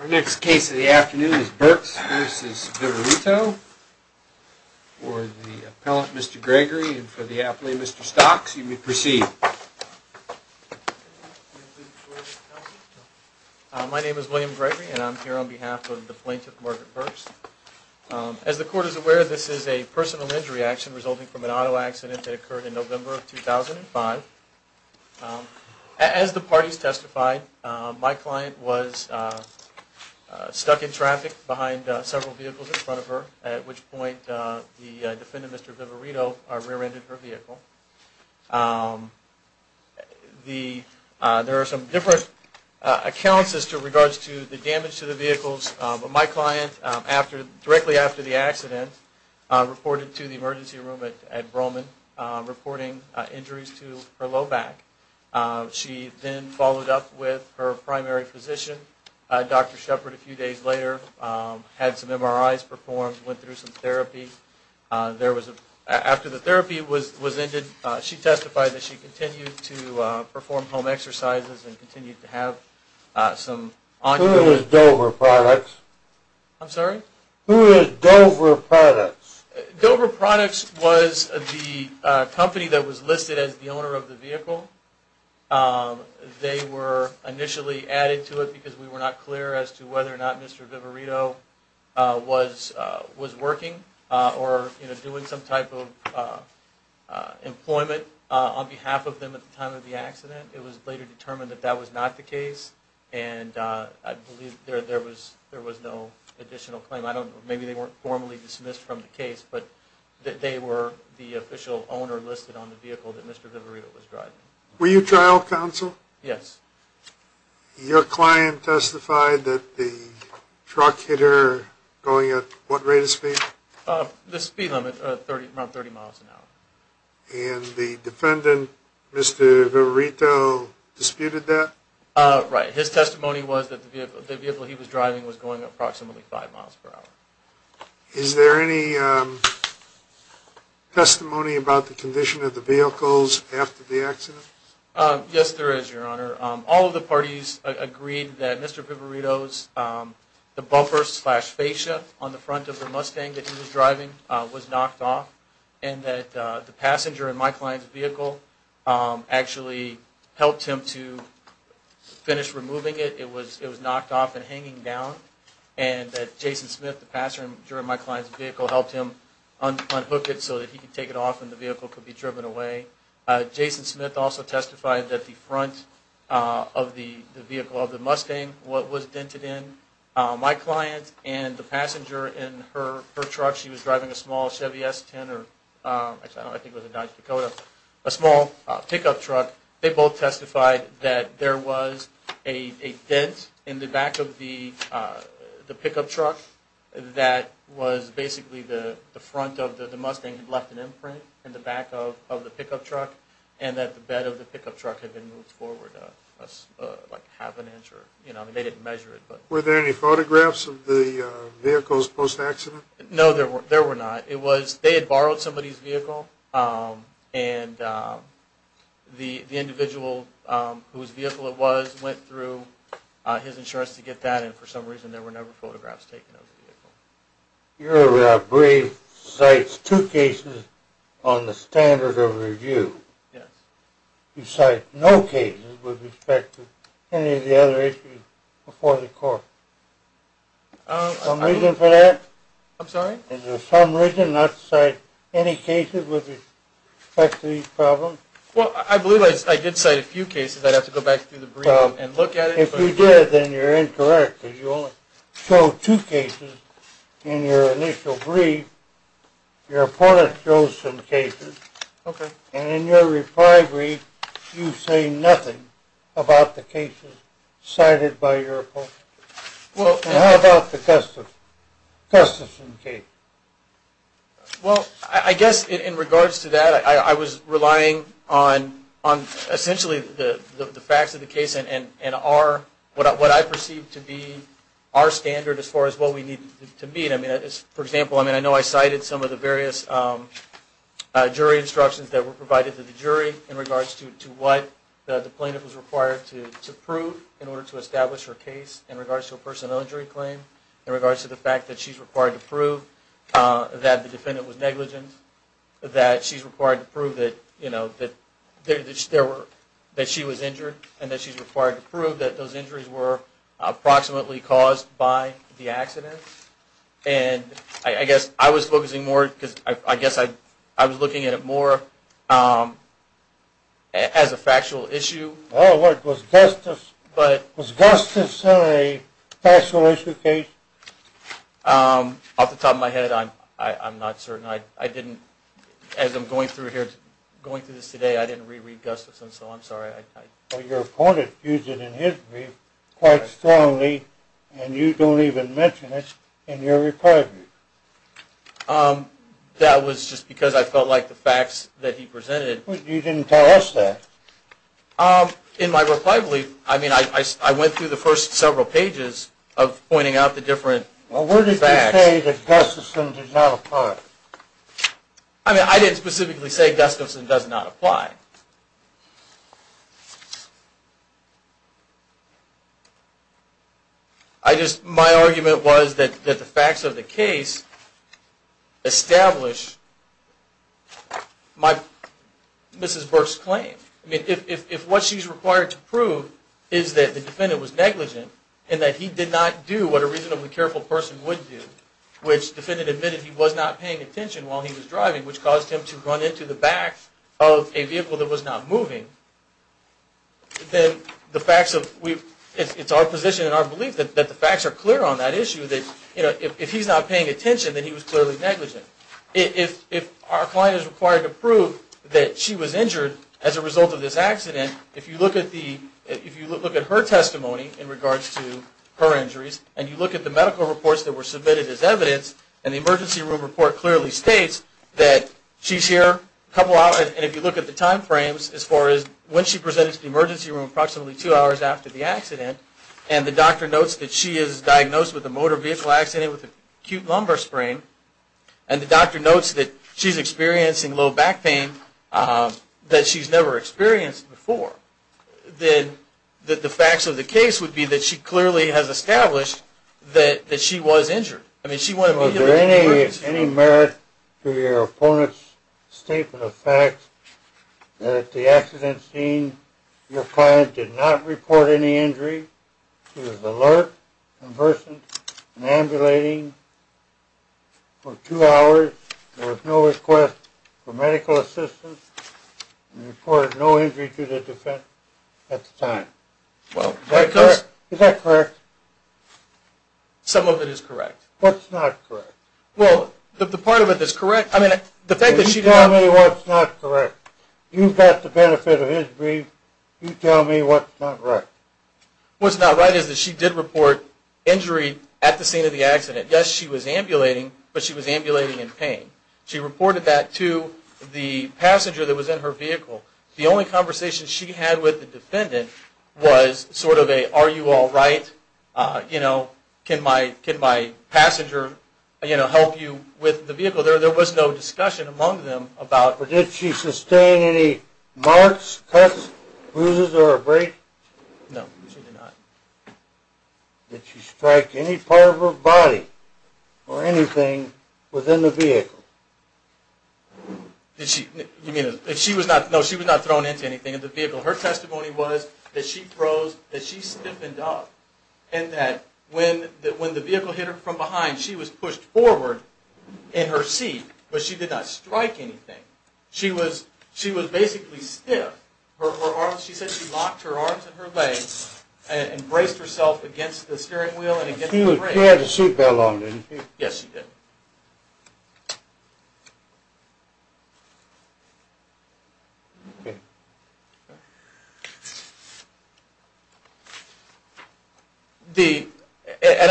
Our next case of the afternoon is Burks v. Vivirito. For the appellant, Mr. Gregory, and for the appellant, Mr. Stocks, you may proceed. My name is William Gregory and I'm here on behalf of the plaintiff, Margaret Burks. As the court is aware, this is a personal injury action resulting from an auto accident that occurred in November of 2005. As the parties testified, my client was stuck in traffic behind several vehicles in front of her, at which point the defendant, Mr. Vivirito, rear-ended her vehicle. There are some different accounts as to regards to the damage to the vehicles, but my client, directly after the accident, reported to the back. She then followed up with her primary physician, Dr. Shepard, a few days later, had some MRIs performed, went through some therapy. After the therapy was ended, she testified that she continued to perform home exercises and continued to have some on-going... Who is Dover Products? I'm sorry? Who is Dover Products? The owner of the vehicle. They were initially added to it because we were not clear as to whether or not Mr. Vivirito was working or, you know, doing some type of employment on behalf of them at the time of the accident. It was later determined that that was not the case, and I believe there was no additional claim. I don't know, maybe they weren't formally dismissed from the Were you trial counsel? Yes. Your client testified that the truck hit her going at what rate of speed? The speed limit, around 30 miles an hour. And the defendant, Mr. Vivirito, disputed that? Right. His testimony was that the vehicle he was driving was going approximately five miles per hour. Is there any testimony about the condition of the vehicles after the accident? Yes, there is, Your Honor. All of the parties agreed that Mr. Vivirito's, the buffer slash fascia on the front of the Mustang that he was driving was knocked off, and that the passenger in my client's vehicle actually helped him to finish removing it. It was knocked off and hanging down, and that Jason Smith, the passenger in my client's vehicle, helped him unhook it so that he could take it off and the vehicle could be driven away. Jason Smith also testified that the front of the vehicle of the Mustang, what was dented in, my client and the passenger in her truck, she was driving a small Chevy S10, or I think it was a Dodge Dakota, a small pickup truck. They both testified that there was a dent in the back of the pickup truck that was basically the front of the Mustang had left an imprint in the back of the pickup truck, and that the bed of the pickup truck had been moved forward like half an inch. You know, they didn't measure it. Were there any photographs of the vehicles post-accident? No, there were not. It was, they had borrowed somebody's vehicle, and the individual whose vehicle was not in for some reason, there were never photographs taken of the vehicle. Your brief cites two cases on the standard of review. Yes. You cite no cases with respect to any of the other issues before the court. I'm sorry? Is there some reason not to cite any cases with respect to these problems? Well, I believe I did cite a few cases. I'd have to go back through the brief and look at it. If you did, then you're incorrect, because you only show two cases in your initial brief. Your opponent shows some cases, and in your reply brief, you say nothing about the cases cited by your opponent. Well, how about the Custison case? Well, I guess in regards to that, I was relying on essentially the facts of the case and what I perceive to be our standard as far as what we need to meet. For example, I know I cited some of the various jury instructions that were provided to the jury in regards to what the plaintiff was required to prove in order to establish her case in regards to a personal injury claim, in regards to the fact that she's required to prove that the defendant was negligent, that she's required to prove that she was injured, and that she's required to prove that those injuries were approximately caused by the accident. And I guess I was focusing more, because I guess I was looking at it more as a factual issue. Oh, was Custison a factual issue case? Off the top of my head, I'm not certain. I didn't, as I'm going through here, going through this today, I didn't reread Custison, so I'm sorry. Well, your opponent used it in his brief quite strongly, and you don't even mention it in your reply brief. That was just because I felt like the facts that he presented... Well, you didn't tell us that. In my reply brief, I mean, I went through the first several pages of pointing out the different facts. Well, where did you say that Custison does not apply? I mean, I didn't specifically say Custison does not apply. My argument was that the facts of the case establish Mrs. Burke's claim. I mean, if what she's required to prove is that the defendant was negligent, and that he did not do what a reasonably careful person would do, which the defendant admitted he was not paying attention while he was driving, which caused him to run into the back of a vehicle that was not moving, then the facts of... It's our position and our belief that the facts are clear on that issue. That, you know, if he's not paying attention, then he was clearly negligent. If our client is required to prove that she was injured as a result of this accident, if you look at the... If you look at her testimony in regards to her injuries, and you look at the medical room report clearly states that she's here a couple hours, and if you look at the time frames as far as when she presented to the emergency room, approximately two hours after the accident, and the doctor notes that she is diagnosed with a motor vehicle accident with acute lumbar sprain, and the doctor notes that she's experiencing low back pain that she's never experienced before, then the facts of the case would be that she clearly has any merit to your opponent's statement of facts that at the accident scene, your client did not report any injury. She was alert, conversant, and ambulating for two hours. There was no request for medical assistance, and reported no injury to the defense at the time. Is that correct? Some of it is correct. What's not correct? Well, the part of it that's correct... I mean, the fact that she... You tell me what's not correct. You've got the benefit of his brief. You tell me what's not right. What's not right is that she did report injury at the scene of the accident. Yes, she was ambulating, but she was ambulating in pain. She reported that to the passenger that was in her vehicle. The only conversation she had with the defendant was sort of a, are you all right? You know, can my passenger, you know, help you with the vehicle? There was no discussion among them about... But did she sustain any marks, cuts, bruises, or a break? No, she did not. Did she strike any part of her body, or anything, within the vehicle? Did she... You mean... She was not... No, she was not thrown into anything in the vehicle. When the vehicle hit her from behind, she was pushed forward in her seat, but she did not strike anything. She was basically stiff. She said she locked her arms and her legs and braced herself against the steering wheel and against the brake. She had the seat belt on, didn't she? Yes, she did.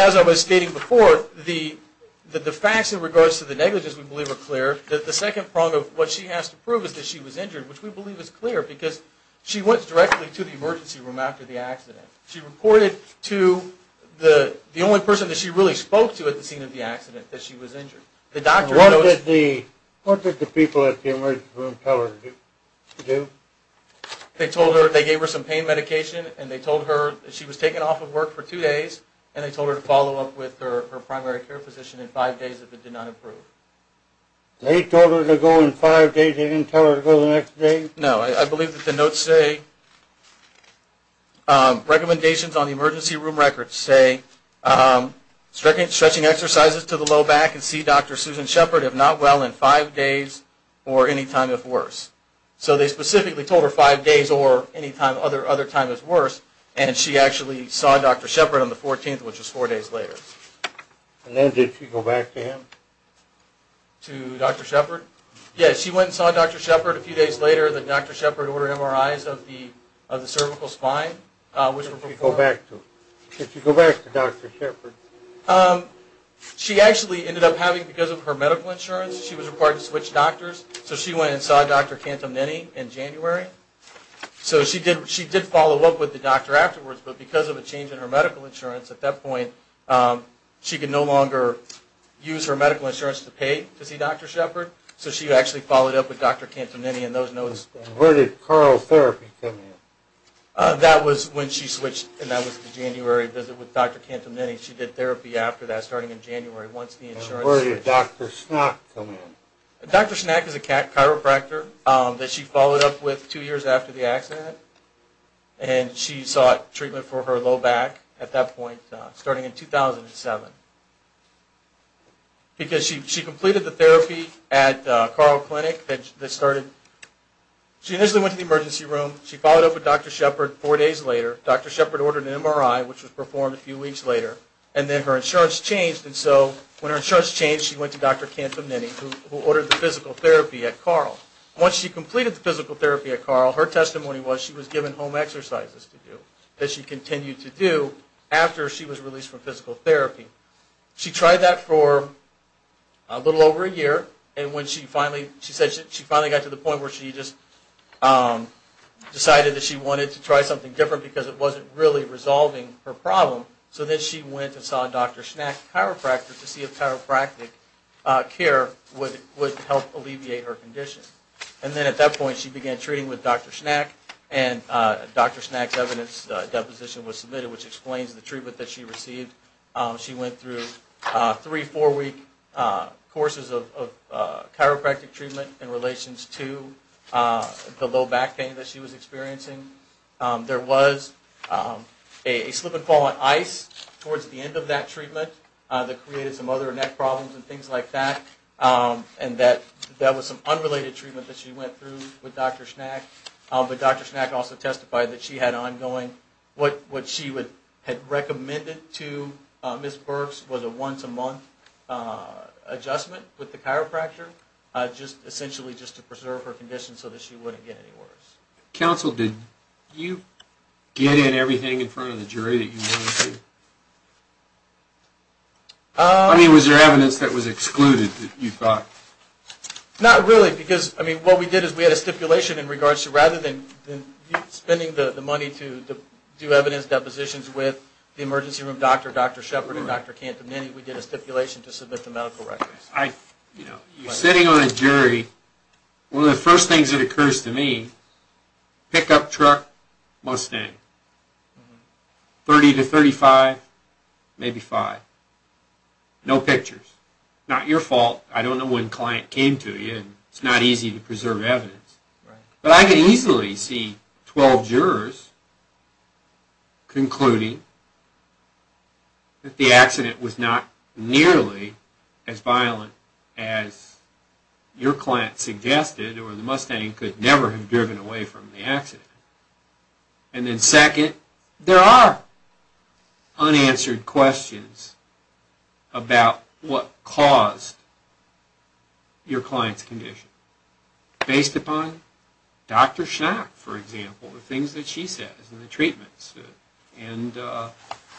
As I was stating before, the facts in regards to the negligence we believe are clear. The second prong of what she has to prove is that she was injured, which we believe is clear, because she went directly to the emergency room after the accident. She reported to the only person that she really spoke to at the scene of the accident that she was injured. The doctor... What did the people at the emergency room tell her to do? They told her... They gave her some pain medication, and they told her that she was taken off of work for two days, and they told her to follow up with her primary care physician in five days if it did not improve. They told her to go in five days? They didn't tell her to go the next day? No. I believe that the notes say... Recommendations on the emergency room records say, stretching exercises to the low back and see Dr. Susan Shepard if not well in five days or any time if worse. So they specifically told her five days or any other time if worse, and she actually saw Dr. Shepard on the 14th, which was four days later. And then did she go back to him? To Dr. Shepard? Yes, she went and saw Dr. Shepard a few days later. The Dr. Shepard ordered MRIs of the cervical spine, which were performed... Did she go back to Dr. Shepard? She actually ended up having, because of her medical insurance, she was required to switch doctors, so she went and saw Dr. Cantamnini in January. So she did follow up with the doctor afterwards, but because of a change in her medical insurance, at that point, she could no longer use her medical insurance to pay to see Dr. Shepard, so she actually followed up with Dr. Cantamnini in those notes. Where did carotherapy come in? That was when she switched, and that was the January visit with Dr. Cantamnini. She did therapy after that, starting in January, once the insurance changed. And where did Dr. Schnack come in? Dr. Schnack is a chiropractor that she followed up with two years after the accident, and she sought treatment for her low back at that point, starting in 2007. Because she completed the therapy at Carl Clinic, she initially went to the emergency room, she followed up with Dr. Shepard four days later, Dr. Shepard ordered an MRI, which was performed a few weeks later, and then her insurance changed, and so when her insurance changed, she went to Dr. Cantamnini, who ordered the physical therapy at Carl. Once she completed the physical therapy at Carl, her testimony was she was given home exercises to do, that she continued to do after she was released from physical therapy. She tried that for a little over a year, and when she finally got to the point where she decided that she wanted to try something different because it wasn't really resolving her problem, so then she went and saw Dr. Schnack, a chiropractor, to see if chiropractic care would help alleviate her condition. And then at that point, she began treating with Dr. Schnack, and Dr. Schnack's evidence deposition was submitted, which explains the treatment that she received. She went through three, four-week courses of chiropractic treatment in relation to the low back pain that she was experiencing. There was a slip and fall on ice towards the end of that treatment that created some other neck problems and things like that, and that was some unrelated treatment that she went through with Dr. Schnack, but Dr. Schnack also testified that she had ongoing, what she had recommended to Ms. Burks was a once-a-month adjustment with the chiropractor, essentially just to preserve her condition so that she wouldn't get any worse. Counsel, did you get in everything in front of the jury that you wanted to? I mean, was there evidence that was excluded that you thought? Not really, because, I mean, what we did is we had a stipulation in regards to, rather than you spending the money to do evidence depositions with the emergency room doctor, Dr. Shepard and Dr. Cantamini, we did a stipulation to submit the medical records. Sitting on a jury, one of the first things that occurs to me, pickup truck, Mustang, 30 to 35, maybe five, no pictures, not your fault, I don't know when the client came to you, it's not easy to preserve evidence. But I could easily see 12 jurors concluding that the accident was not nearly as violent as your client suggested, or the Mustang could never have driven away from the accident. And then second, there are unanswered questions about what caused your client's condition, based upon Dr. Shepard, for example, the things that she said in the treatments, and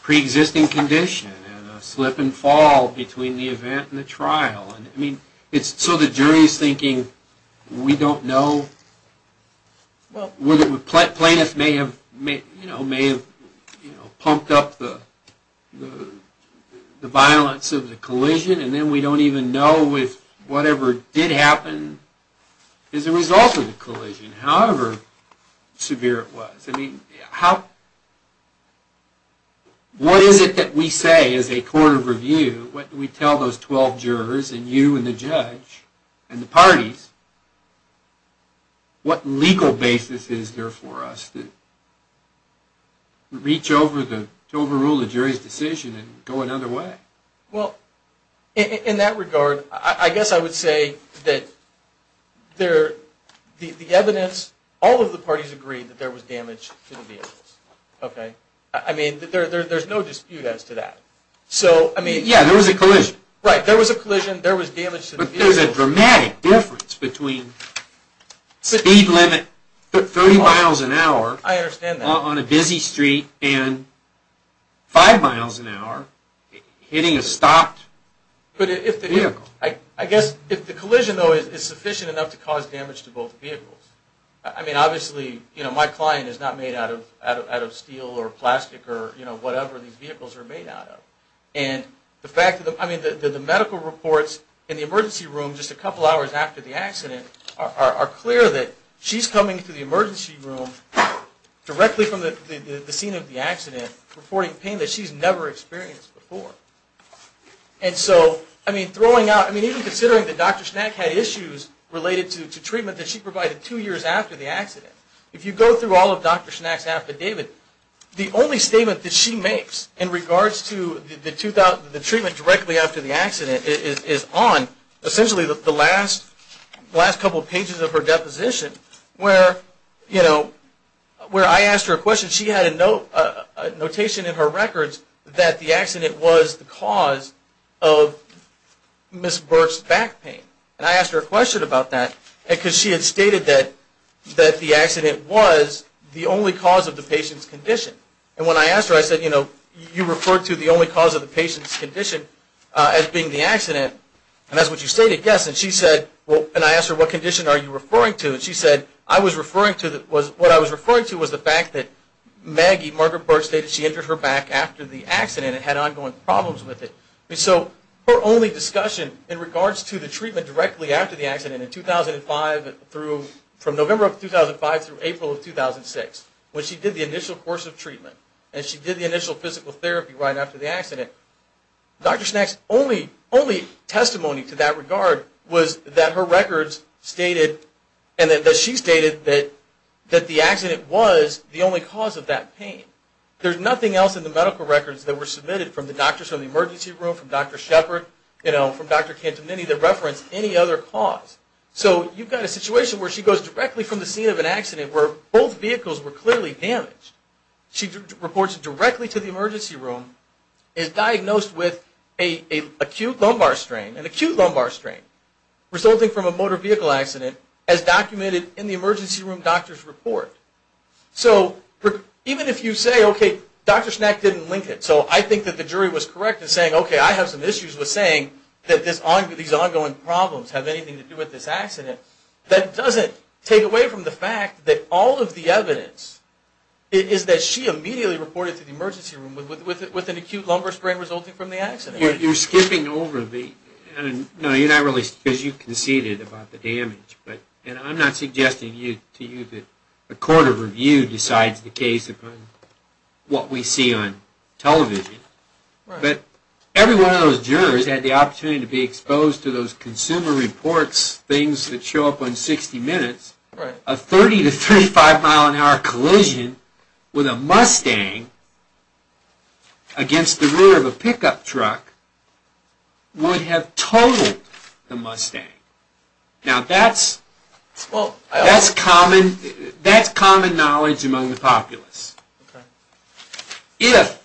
pre-existing condition, and a slip and fall between the event and the trial. So the jury is thinking, we don't know, plaintiff may have pumped up the violence of the collision, and then we don't even know if whatever did happen is a result of the collision, however severe it was. What is it that we say as a court of review, what do we tell those 12 jurors, and you and the judge, and the parties, what legal basis is there for us to reach over, to overrule the jury's decision and go another way? Well, in that regard, I guess I would say that the evidence, all of the parties agreed that there was damage to the vehicles. I mean, there's no dispute as to that. Yeah, there was a collision. Right, there was a collision, there was damage to the vehicles. There's a dramatic difference between speed limit, 30 miles an hour, on a busy street, and 5 miles an hour, hitting a stopped vehicle. I guess, if the collision, though, is sufficient enough to cause damage to both vehicles, I mean, obviously, my client is not made out of steel, or plastic, or whatever these vehicles are made out of. I mean, the medical reports in the emergency room, just a couple hours after the accident, are clear that she's coming to the emergency room, directly from the scene of the accident, reporting pain that she's never experienced before. And so, I mean, even considering that Dr. Schnack had issues related to treatment that she provided two years after the accident, if you go through all of Dr. Schnack's affidavit, the only statement that she makes in regards to the treatment directly after the accident is on, essentially, the last couple pages of her deposition, where I asked her a question, she had a notation in her records that the accident was the cause of Ms. Burke's back pain. And I asked her a question about that, because she had stated that the accident was the only cause of the patient's condition. And when I asked her, I said, you know, you referred to the only cause of the patient's condition as being the accident, and that's what you stated, yes. And she said, well, and I asked her, what condition are you referring to? And she said, I was referring to, what I was referring to was the fact that Maggie, Margaret Burke, stated she injured her back after the accident and had ongoing problems with it. And so, her only discussion in regards to the treatment directly after the accident in 2005 through, from November of 2005 through April of 2006, when she did the initial course of treatment, and she did the initial physical therapy right after the accident, Dr. Schnack's only testimony to that regard was that her records stated, and that she stated that the accident was the only cause of that pain. There's nothing else in the medical records that were submitted from the doctors in the emergency room, from Dr. Shepard, you know, from Dr. Cantemini, that referenced any other cause. So, you've got a situation where she goes directly from the scene of an accident where both vehicles were clearly damaged. She reports directly to the emergency room, is diagnosed with an acute lumbar strain, resulting from a motor vehicle accident, as documented in the emergency room doctor's report. So, even if you say, okay, Dr. Schnack didn't link it. So, I think that the jury was correct in saying, okay, I have some issues with saying that these ongoing problems have anything to do with this accident. That doesn't take away from the fact that all of the evidence is that she immediately reported to the emergency room with an acute lumbar strain resulting from the accident. You're skipping over the, no, you're not really, because you conceded about the damage. And I'm not suggesting to you that a court of review decides the case upon what we see on television. But every one of those jurors had the opportunity to be exposed to those consumer reports, things that show up on 60 Minutes, a 30 to 35 mile an hour collision with a Mustang against the rear of a pickup truck would have totaled the Mustang. Now, that's common knowledge among the populace. If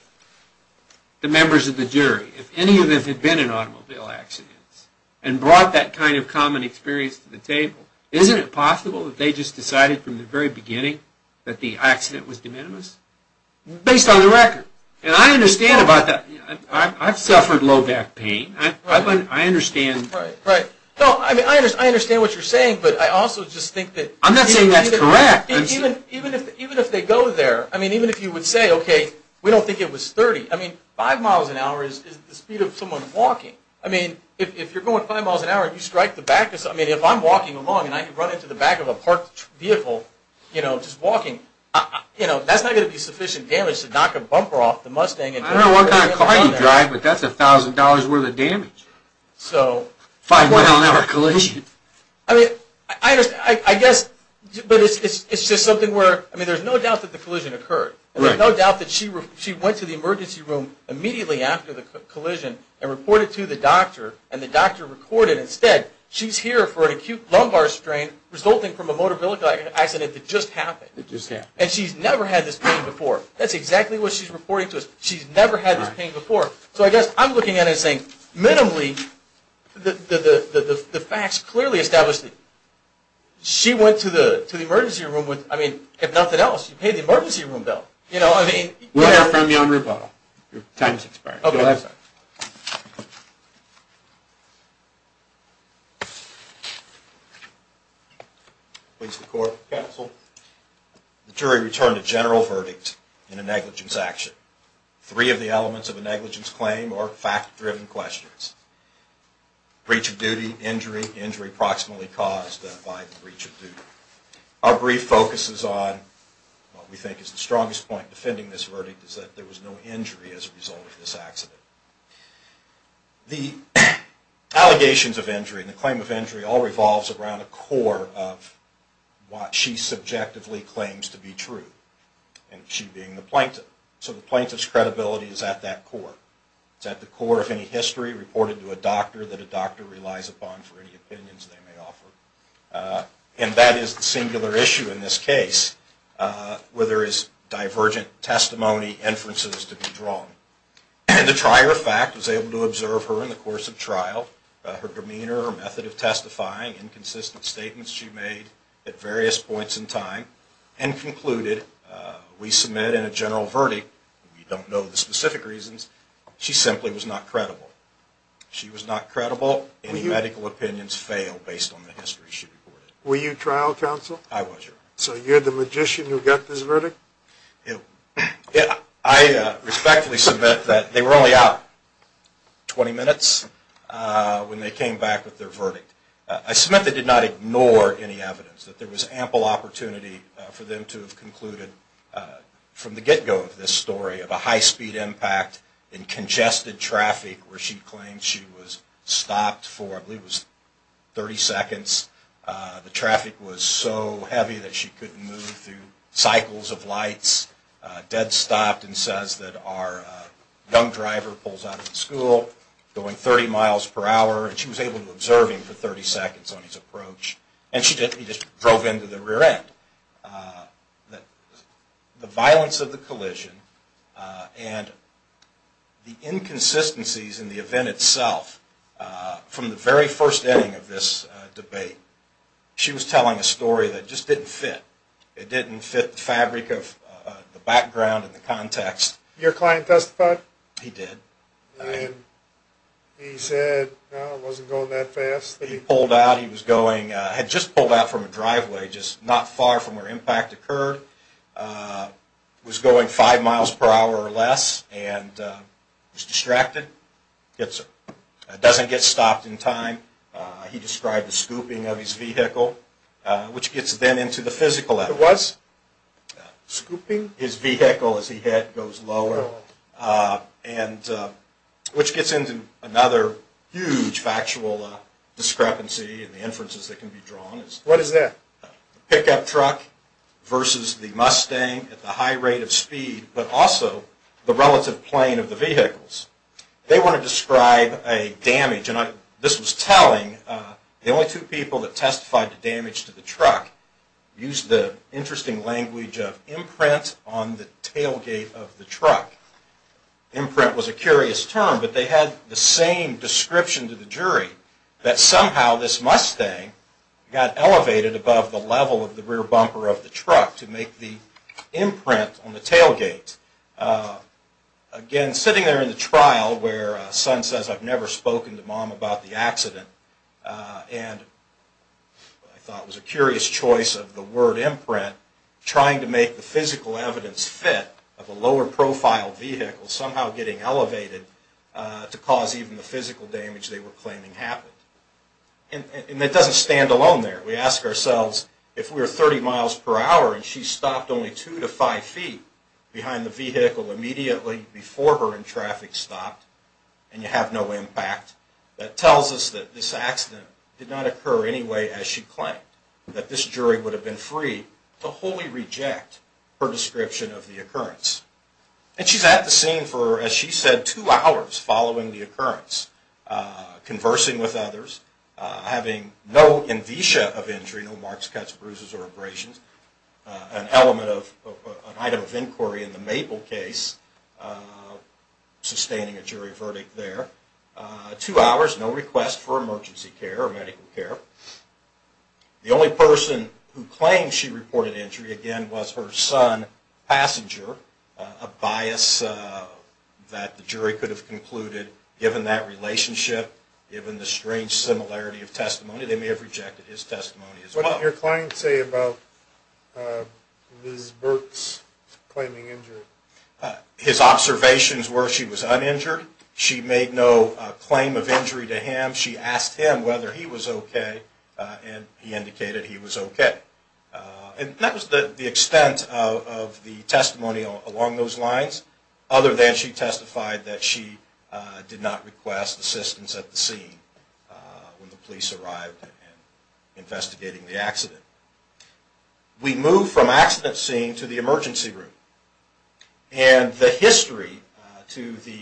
the members of the jury, if any of them had been in automobile accidents and brought that kind of common experience to the table, isn't it possible that they just decided from the very beginning that the accident was de minimis? Based on the record. And I understand about that. I've suffered low back pain. I understand. Right, right. No, I mean, I understand what you're saying, but I also just think that... I'm not saying that's correct. Even if they go there, I mean, even if you would say, okay, we don't think it was 30. I mean, five miles an hour is the speed of someone walking. I mean, if you're going five miles an hour and you strike the back, I mean, if I'm walking along and I run into the back of a parked vehicle, you know, just walking, you know, that's not going to be sufficient damage to knock a bumper off the Mustang. I don't know what kind of car you drive, but that's $1,000 worth of damage. So... Five mile an hour collision. I mean, I guess, but it's just something where, I mean, there's no doubt that the collision occurred. Right. There's no doubt that she went to the emergency room immediately after the collision and reported to the doctor, and the doctor recorded instead, she's here for an acute lumbar strain resulting from a motor vehicle accident that just happened. And she's never had this pain before. That's exactly what she's reporting to us. She's never had this pain before. So I guess I'm looking at it and saying, minimally, the facts clearly establish that she went to the emergency room with, I mean, if nothing else, you pay the emergency room bill. You know, I mean... We'll hear from you on rebuttal. Your time's expired. Okay. Please, the court. Counsel. The jury returned a general verdict in a negligence action. Three of the elements of a negligence claim are fact-driven questions. Breach of duty, injury, injury proximally caused by the breach of duty. Our brief focuses on what we think is the strongest point defending this verdict, is that there was no injury as a result of this accident. The allegations of injury and the claim of injury all revolves around a core of what she subjectively claims to be true, and she being the plaintiff. So the plaintiff's credibility is at that core. It's at the core of any history reported to a doctor that a doctor relies upon for any opinions they may offer. And that is the singular issue in this case, where there is divergent testimony inferences to be drawn. The trier of fact was able to observe her in the course of trial, her demeanor, her method of testifying, inconsistent statements she made at various points in time, and concluded, we submit in a general verdict, we don't know the specific reasons, she simply was not credible. She was not credible. Any medical opinions fail based on the history she reported. Were you trial counsel? I was. So you're the magician who got this verdict? I respectfully submit that they were only out 20 minutes when they came back with their verdict. I submit they did not ignore any evidence, that there was ample opportunity for them to have concluded, from the get-go of this story, of a high-speed impact in congested traffic, where she claimed she was stopped for, I believe it was 30 seconds. The traffic was so heavy that she couldn't move through cycles of lights, dead stopped and says that our young driver pulls out of the school, going 30 miles per hour, and she was able to observe him for 30 seconds on his approach. And he just drove into the rear end. The violence of the collision and the inconsistencies in the event itself, from the very first inning of this debate, she was telling a story that just didn't fit. It didn't fit the fabric of the background and the context. Did your client testify? He did. And he said, no, it wasn't going that fast? He pulled out. He had just pulled out from a driveway, just not far from where impact occurred. He was going five miles per hour or less and was distracted. He doesn't get stopped in time. He described the scooping of his vehicle, which gets then into the physical evidence. It was? What is that? Pickup truck versus the Mustang at the high rate of speed, but also the relative plane of the vehicles. They want to describe a damage. And this was telling. The only two people that testified to damage to the truck used the interesting language of imprint on the tailgate of the truck. Imprint was a curious term, but they had the same description to the jury, that somehow this Mustang got elevated above the level of the rear bumper of the truck to make the imprint on the tailgate. Again, sitting there in the trial where a son says, I've never spoken to mom about the accident, and I thought it was a curious choice of the word imprint, trying to make the physical evidence fit of a lower profile vehicle somehow getting elevated to cause even the physical damage they were claiming happened. And it doesn't stand alone there. We ask ourselves, if we were 30 miles per hour and she stopped only two to five feet behind the vehicle immediately before her in traffic stopped, and you have no impact, that tells us that this accident did not occur anyway as she claimed, that this jury would have been free to wholly reject her description of the occurrence. And she's at the scene for, as she said, two hours following the occurrence, conversing with others, having no in visa of injury, no marks, cuts, bruises, or abrasions, an item of inquiry in the Maple case, sustaining a jury verdict there. Two hours, no request for emergency care or medical care. The only person who claimed she reported injury, again, was her son, Passenger, a bias that the jury could have concluded given that relationship, given the strange similarity of testimony. They may have rejected his testimony as well. What did your client say about Ms. Burt's claiming injury? His observations were she was uninjured. She made no claim of injury to him. She asked him whether he was okay, and he indicated he was okay. And that was the extent of the testimony along those lines, other than she testified that she did not request assistance at the scene when the police arrived investigating the accident. We move from accident scene to the emergency room. And the history to the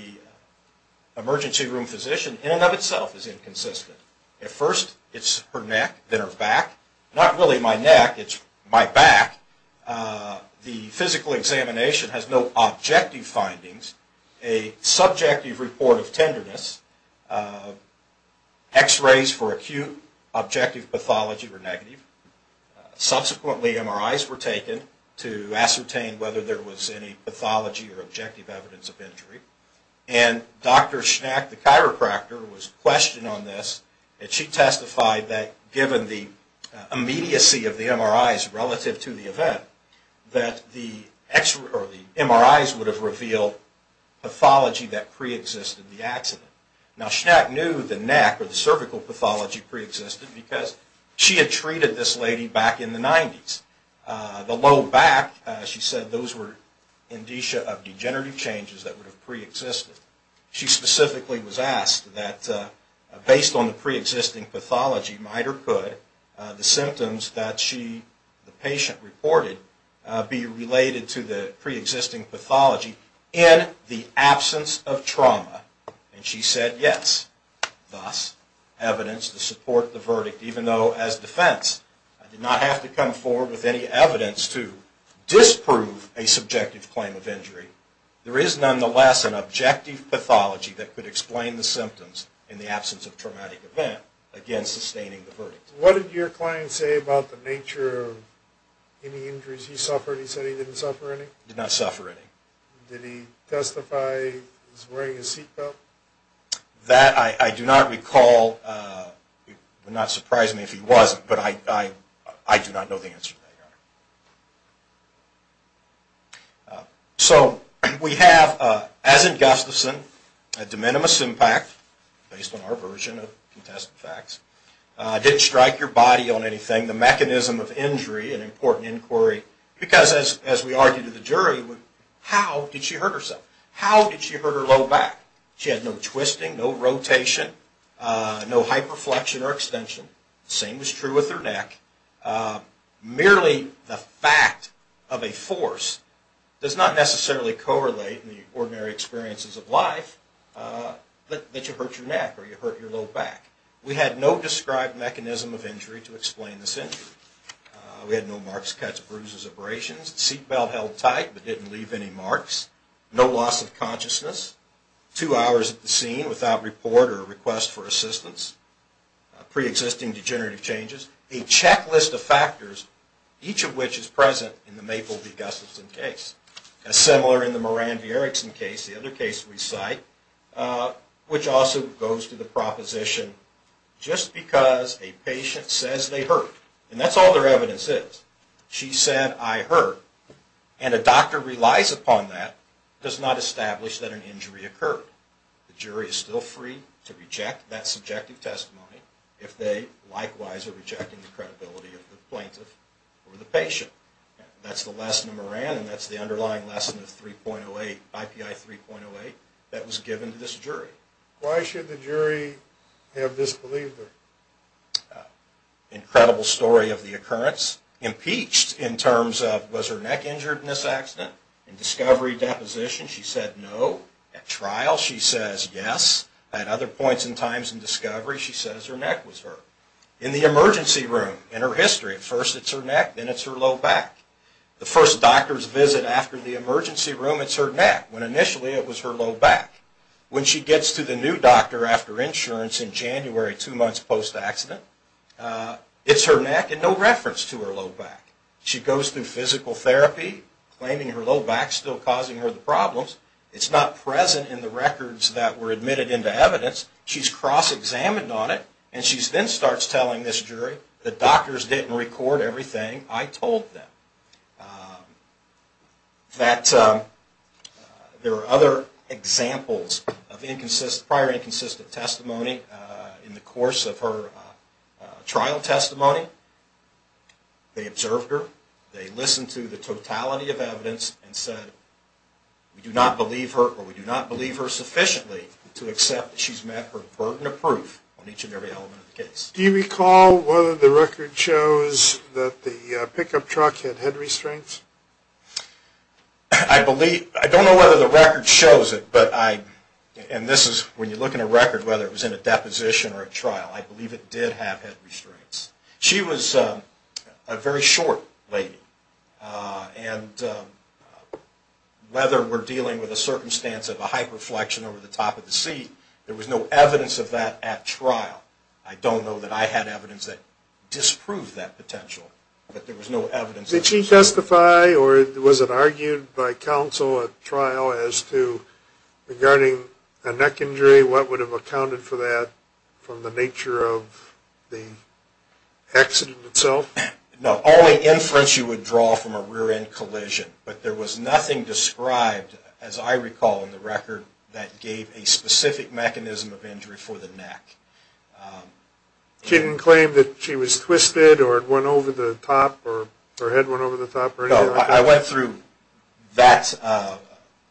emergency room physician in and of itself is inconsistent. At first, it's her neck, then her back. Not really my neck, it's my back. The physical examination has no objective findings. A subjective report of tenderness. X-rays for acute objective pathology were negative. Subsequently, MRIs were taken to ascertain whether there was any pathology or objective evidence of injury. And Dr. Schnack, the chiropractor, was questioned on this, and she testified that given the immediacy of the MRIs relative to the event, that the MRIs would have revealed pathology that preexisted the accident. Now, Schnack knew the neck or the cervical pathology preexisted because she had treated this lady back in the 90s. The low back, she said those were indicia of degenerative changes that would have preexisted. She specifically was asked that based on the preexisting pathology, might or could, the symptoms that she, the patient, reported be related to the preexisting pathology in the absence of trauma. And she said yes. Thus, evidence to support the verdict, even though as defense, I did not have to come forward with any evidence to disprove a subjective claim of injury, there is nonetheless an objective pathology that could explain the symptoms in the absence of traumatic event against sustaining the verdict. What did your client say about the nature of any injuries he suffered? He said he didn't suffer any? Did not suffer any. Did he testify he was wearing a seatbelt? That I do not recall. It would not surprise me if he wasn't, but I do not know the answer to that, Your Honor. So, we have, as in Gustafson, a de minimis impact, based on our version of contested facts. Didn't strike your body on anything. The mechanism of injury, an important inquiry. Because, as we argued to the jury, how did she hurt herself? How did she hurt her low back? She had no twisting, no rotation, no hyperflexion or extension. The same was true with her neck. Merely the fact of a force does not necessarily correlate in the ordinary experiences of life that you hurt your neck or you hurt your low back. We had no described mechanism of injury to explain this injury. We had no marks, cuts, bruises, abrasions. Seatbelt held tight, but didn't leave any marks. No loss of consciousness. Two hours at the scene without report or request for assistance. Pre-existing degenerative changes. A checklist of factors, each of which is present in the Maple v. Gustafson case. As similar in the Moran v. Erickson case, the other case we cite, which also goes to the proposition, just because a patient says they hurt, and that's all their evidence is. She said, I hurt, and a doctor relies upon that, does not establish that an injury occurred. The jury is still free to reject that subjective testimony if they likewise are rejecting the credibility of the plaintiff or the patient. That's the lesson of Moran, and that's the underlying lesson of 3.08, IPI 3.08, that was given to this jury. Why should the jury have disbelieved her? Incredible story of the occurrence. Impeached in terms of, was her neck injured in this accident? In discovery deposition, she said no. At trial, she says yes. At other points and times in discovery, she says her neck was hurt. In the emergency room, in her history, at first it's her neck, then it's her low back. The first doctor's visit after the emergency room, it's her neck, when initially it was her low back. When she gets to the new doctor after insurance in January, two months post-accident, it's her neck and no reference to her low back. She goes through physical therapy, claiming her low back's still causing her the problems. It's not present in the records that were admitted into evidence. She's cross-examined on it, and she then starts telling this jury, the doctors didn't record everything I told them. That there are other examples of prior inconsistent testimony in the course of her trial testimony. They observed her. They listened to the totality of evidence and said, we do not believe her, or we do not believe her sufficiently to accept that she's met her burden of proof on each and every element of the case. Do you recall whether the record shows that the pickup truck had head restraints? I believe, I don't know whether the record shows it, but I, and this is, when you look in a record, whether it was in a deposition or a trial, I believe it did have head restraints. She was a very short lady, and whether we're dealing with a circumstance of a hyperflexion over the top of the seat, there was no evidence of that at trial. I don't know that I had evidence that disproved that potential, but there was no evidence. Did she testify, or was it argued by counsel at trial as to, regarding a neck injury, what would have accounted for that from the nature of the accident itself? No, only inference you would draw from a rear-end collision, but there was nothing described, as I recall in the record, that gave a specific mechanism of injury for the neck. She didn't claim that she was twisted or it went over the top or her head went over the top or anything like that? No, I went through that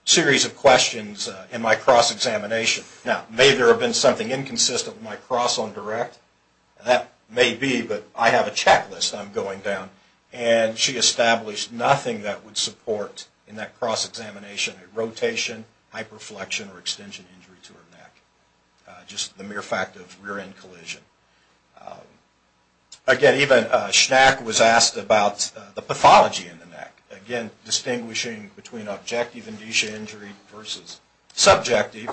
series of questions in my cross-examination. Now, may there have been something inconsistent with my cross on direct? That may be, but I have a checklist I'm going down, and she established nothing that would support, in that cross-examination, a rotation, hyperflexion, or extension injury to her neck, just the mere fact of rear-end collision. Again, even Schnack was asked about the pathology in the neck, again, distinguishing between objective and degenerative injury versus subjective,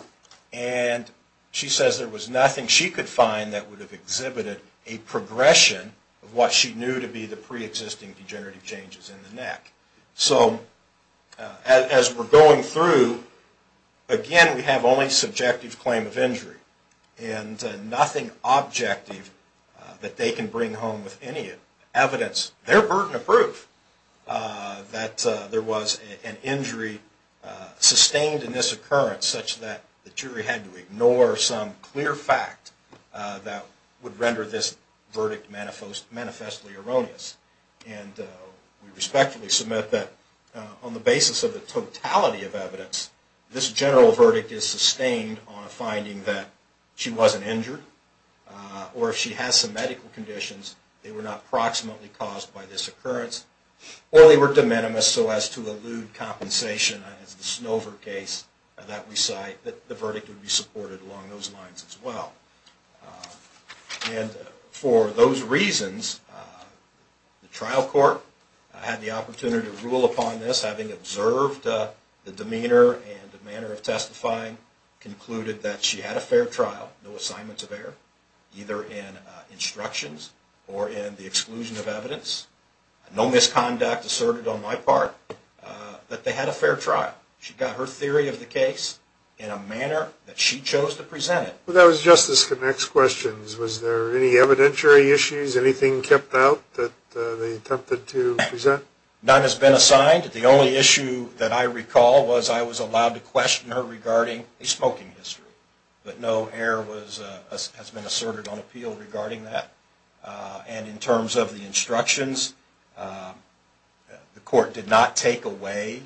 and she says there was nothing she could find that would have exhibited a progression of what she knew to be the pre-existing degenerative changes in the neck. So, as we're going through, again, we have only subjective claim of injury and nothing objective that they can bring home with any evidence, their burden of proof, that there was an injury sustained in this occurrence such that the jury had to ignore some clear fact that would render this on the basis of the totality of evidence, this general verdict is sustained on a finding that she wasn't injured, or if she has some medical conditions, they were not proximately caused by this occurrence, or they were de minimis so as to elude compensation, as the Snover case that we cite, that the verdict would be supported along those lines as well. And for those reasons, the trial court had the opportunity to rule upon this, having observed the demeanor and the manner of testifying, concluded that she had a fair trial, no assignments of error, either in instructions or in the exclusion of evidence, no misconduct asserted on my part, that they had a fair trial. She got her theory of the case in a manner that she chose to present it. Well, that was Justice Connick's questions. Was there any evidentiary issues, anything kept out that they attempted to present? None has been assigned. The only issue that I recall was I was allowed to question her regarding a smoking history, but no error has been asserted on appeal regarding that. And in terms of the instructions, the court did not take away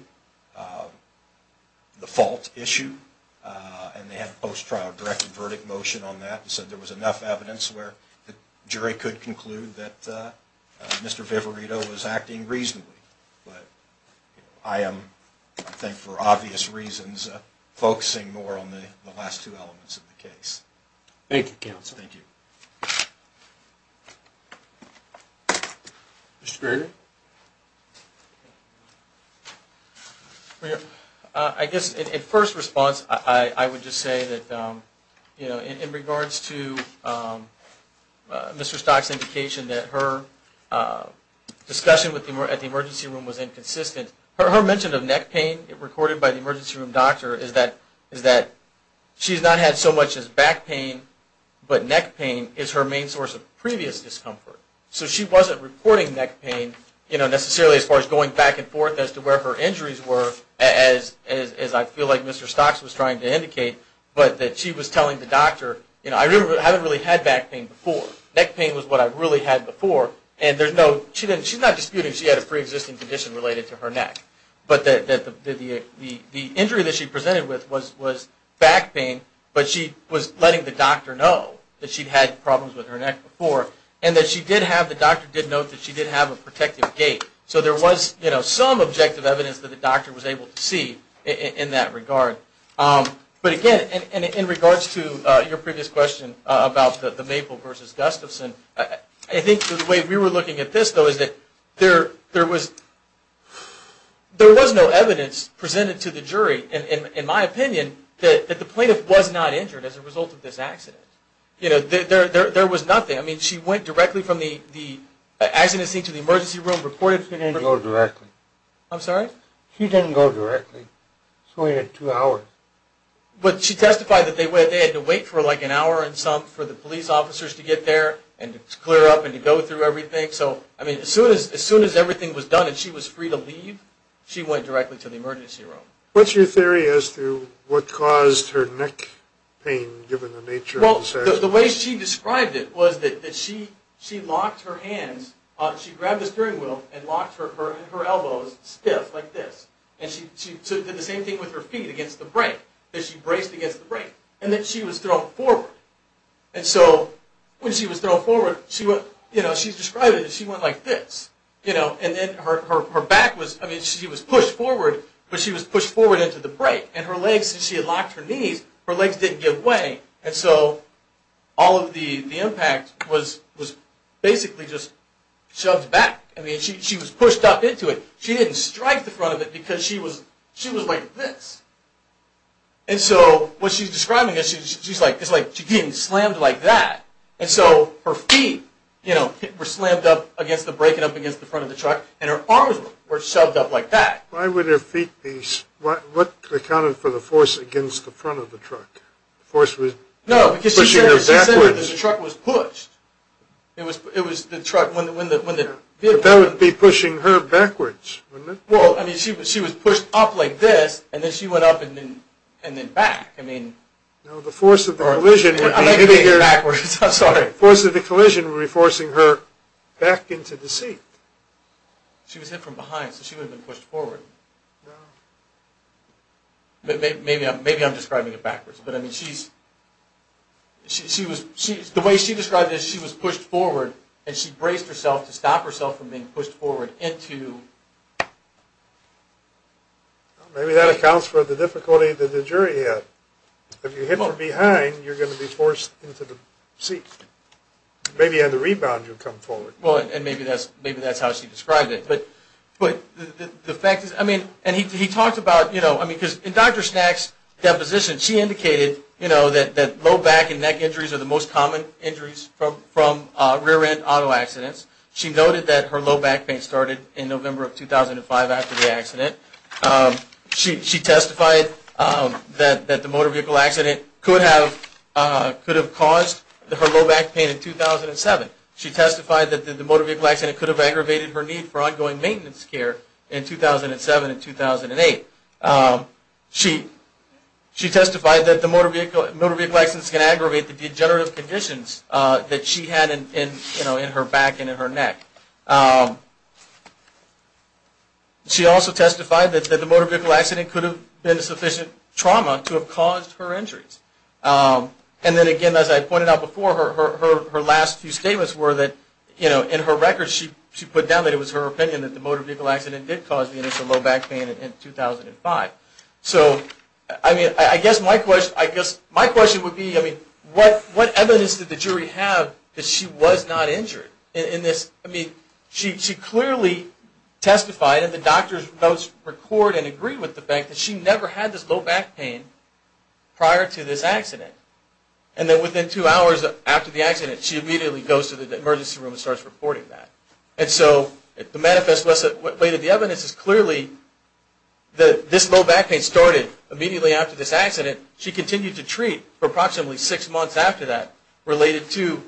the fault issue, and they had a post-trial directive verdict motion on that, so there was enough evidence where the jury could conclude that Mr. Vivarito was acting reasonably. But I am, I think for obvious reasons, focusing more on the last two elements of the case. Thank you, counsel. Thank you. Mr. Grader? I guess in first response, I would just say that in regards to Mr. Stock's indication that her discussion at the emergency room was inconsistent, her mention of neck pain recorded by the emergency room doctor is that she has not had so much as back pain, but neck pain is her main source of previous discomfort. So she wasn't reporting neck pain necessarily as far as going back and forth as to where her injuries were, as I feel like Mr. Stocks was trying to indicate, but that she was telling the doctor, you know, I haven't really had back pain before. Neck pain was what I really had before, and there's no, she's not disputing she had a pre-existing condition related to her neck, but that the injury that she presented with was back pain, but she was letting the doctor know that she'd had problems with her neck before, and that she did have, the doctor did note that she did have a protective gait. So there was, you know, some objective evidence that the doctor was able to see in that regard. But again, in regards to your previous question about the Maple versus Gustafson, I think the way we were looking at this, though, is that there was no evidence presented to the jury, in my opinion, that the plaintiff was not injured as a result of this accident. You know, there was nothing. I mean, she went directly from the accident scene to the emergency room, reported to the emergency room. She didn't go directly. I'm sorry? She didn't go directly. She only had two hours. But she testified that they had to wait for like an hour and some for the police officers to get there and to clear up and to go through everything. So, I mean, as soon as everything was done and she was free to leave, she went directly to the emergency room. What's your theory as to what caused her neck pain, given the nature of the accident? Well, the way she described it was that she locked her hands. She grabbed the steering wheel and locked her elbows stiff like this. And she did the same thing with her feet against the brake, that she braced against the brake. And then she was thrown forward. And so when she was thrown forward, you know, she described it as she went like this, you know. And then her back was, I mean, she was pushed forward, but she was pushed forward into the brake. And her legs, since she had locked her knees, her legs didn't give way. And so all of the impact was basically just shoved back. I mean, she was pushed up into it. She didn't strike the front of it because she was like this. And so what she's describing is she's like, it's like she's getting slammed like that. And so her feet, you know, were slammed up against the brake and up against the front of the truck. And her arms were shoved up like that. Why would her feet be, what accounted for the force against the front of the truck? The force was pushing her backwards. No, because she said that the truck was pushed. It was the truck when the vehicle was pushed. But that would be pushing her backwards, wouldn't it? Well, I mean, she was pushed up like this, and then she went up and then back. No, the force of the collision would be hitting her. The force of the collision would be forcing her back into the seat. She was hit from behind, so she wouldn't have been pushed forward. Maybe I'm describing it backwards. The way she described it is she was pushed forward, and she braced herself to stop herself from being pushed forward into. Maybe that accounts for the difficulty that the jury had. If you hit from behind, you're going to be forced into the seat. Maybe on the rebound you'll come forward. Well, and maybe that's how she described it. But the fact is, I mean, and he talked about, you know, I mean, because in Dr. Snack's deposition, she indicated, you know, that low back and neck injuries are the most common injuries from rear-end auto accidents. She noted that her low back pain started in November of 2005 after the accident. She testified that the motor vehicle accident could have caused her low back pain in 2007. She testified that the motor vehicle accident could have aggravated her need for ongoing maintenance care in 2007 and 2008. She testified that the motor vehicle accidents can aggravate the degenerative conditions that she had in her back and in her neck. She also testified that the motor vehicle accident could have been sufficient trauma to have caused her injuries. And then again, as I pointed out before, her last few statements were that, you know, in her records, she put down that it was her opinion that the motor vehicle accident did cause the initial low back pain in 2005. So, I mean, I guess my question would be, I mean, what evidence did the jury have that she was not injured in this? I mean, she clearly testified, and the doctors both record and agree with the fact that she never had this low back pain prior to this accident. And then within two hours after the accident, she immediately goes to the emergency room and starts reporting that. And so, the manifest way that the evidence is clearly that this low back pain started immediately after this accident. She continued to treat for approximately six months after that, related to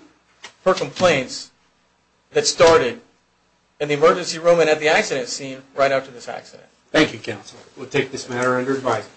her complaints that started in the emergency room and at the accident scene right after this accident. Thank you, Counselor. We'll take this matter under advisement.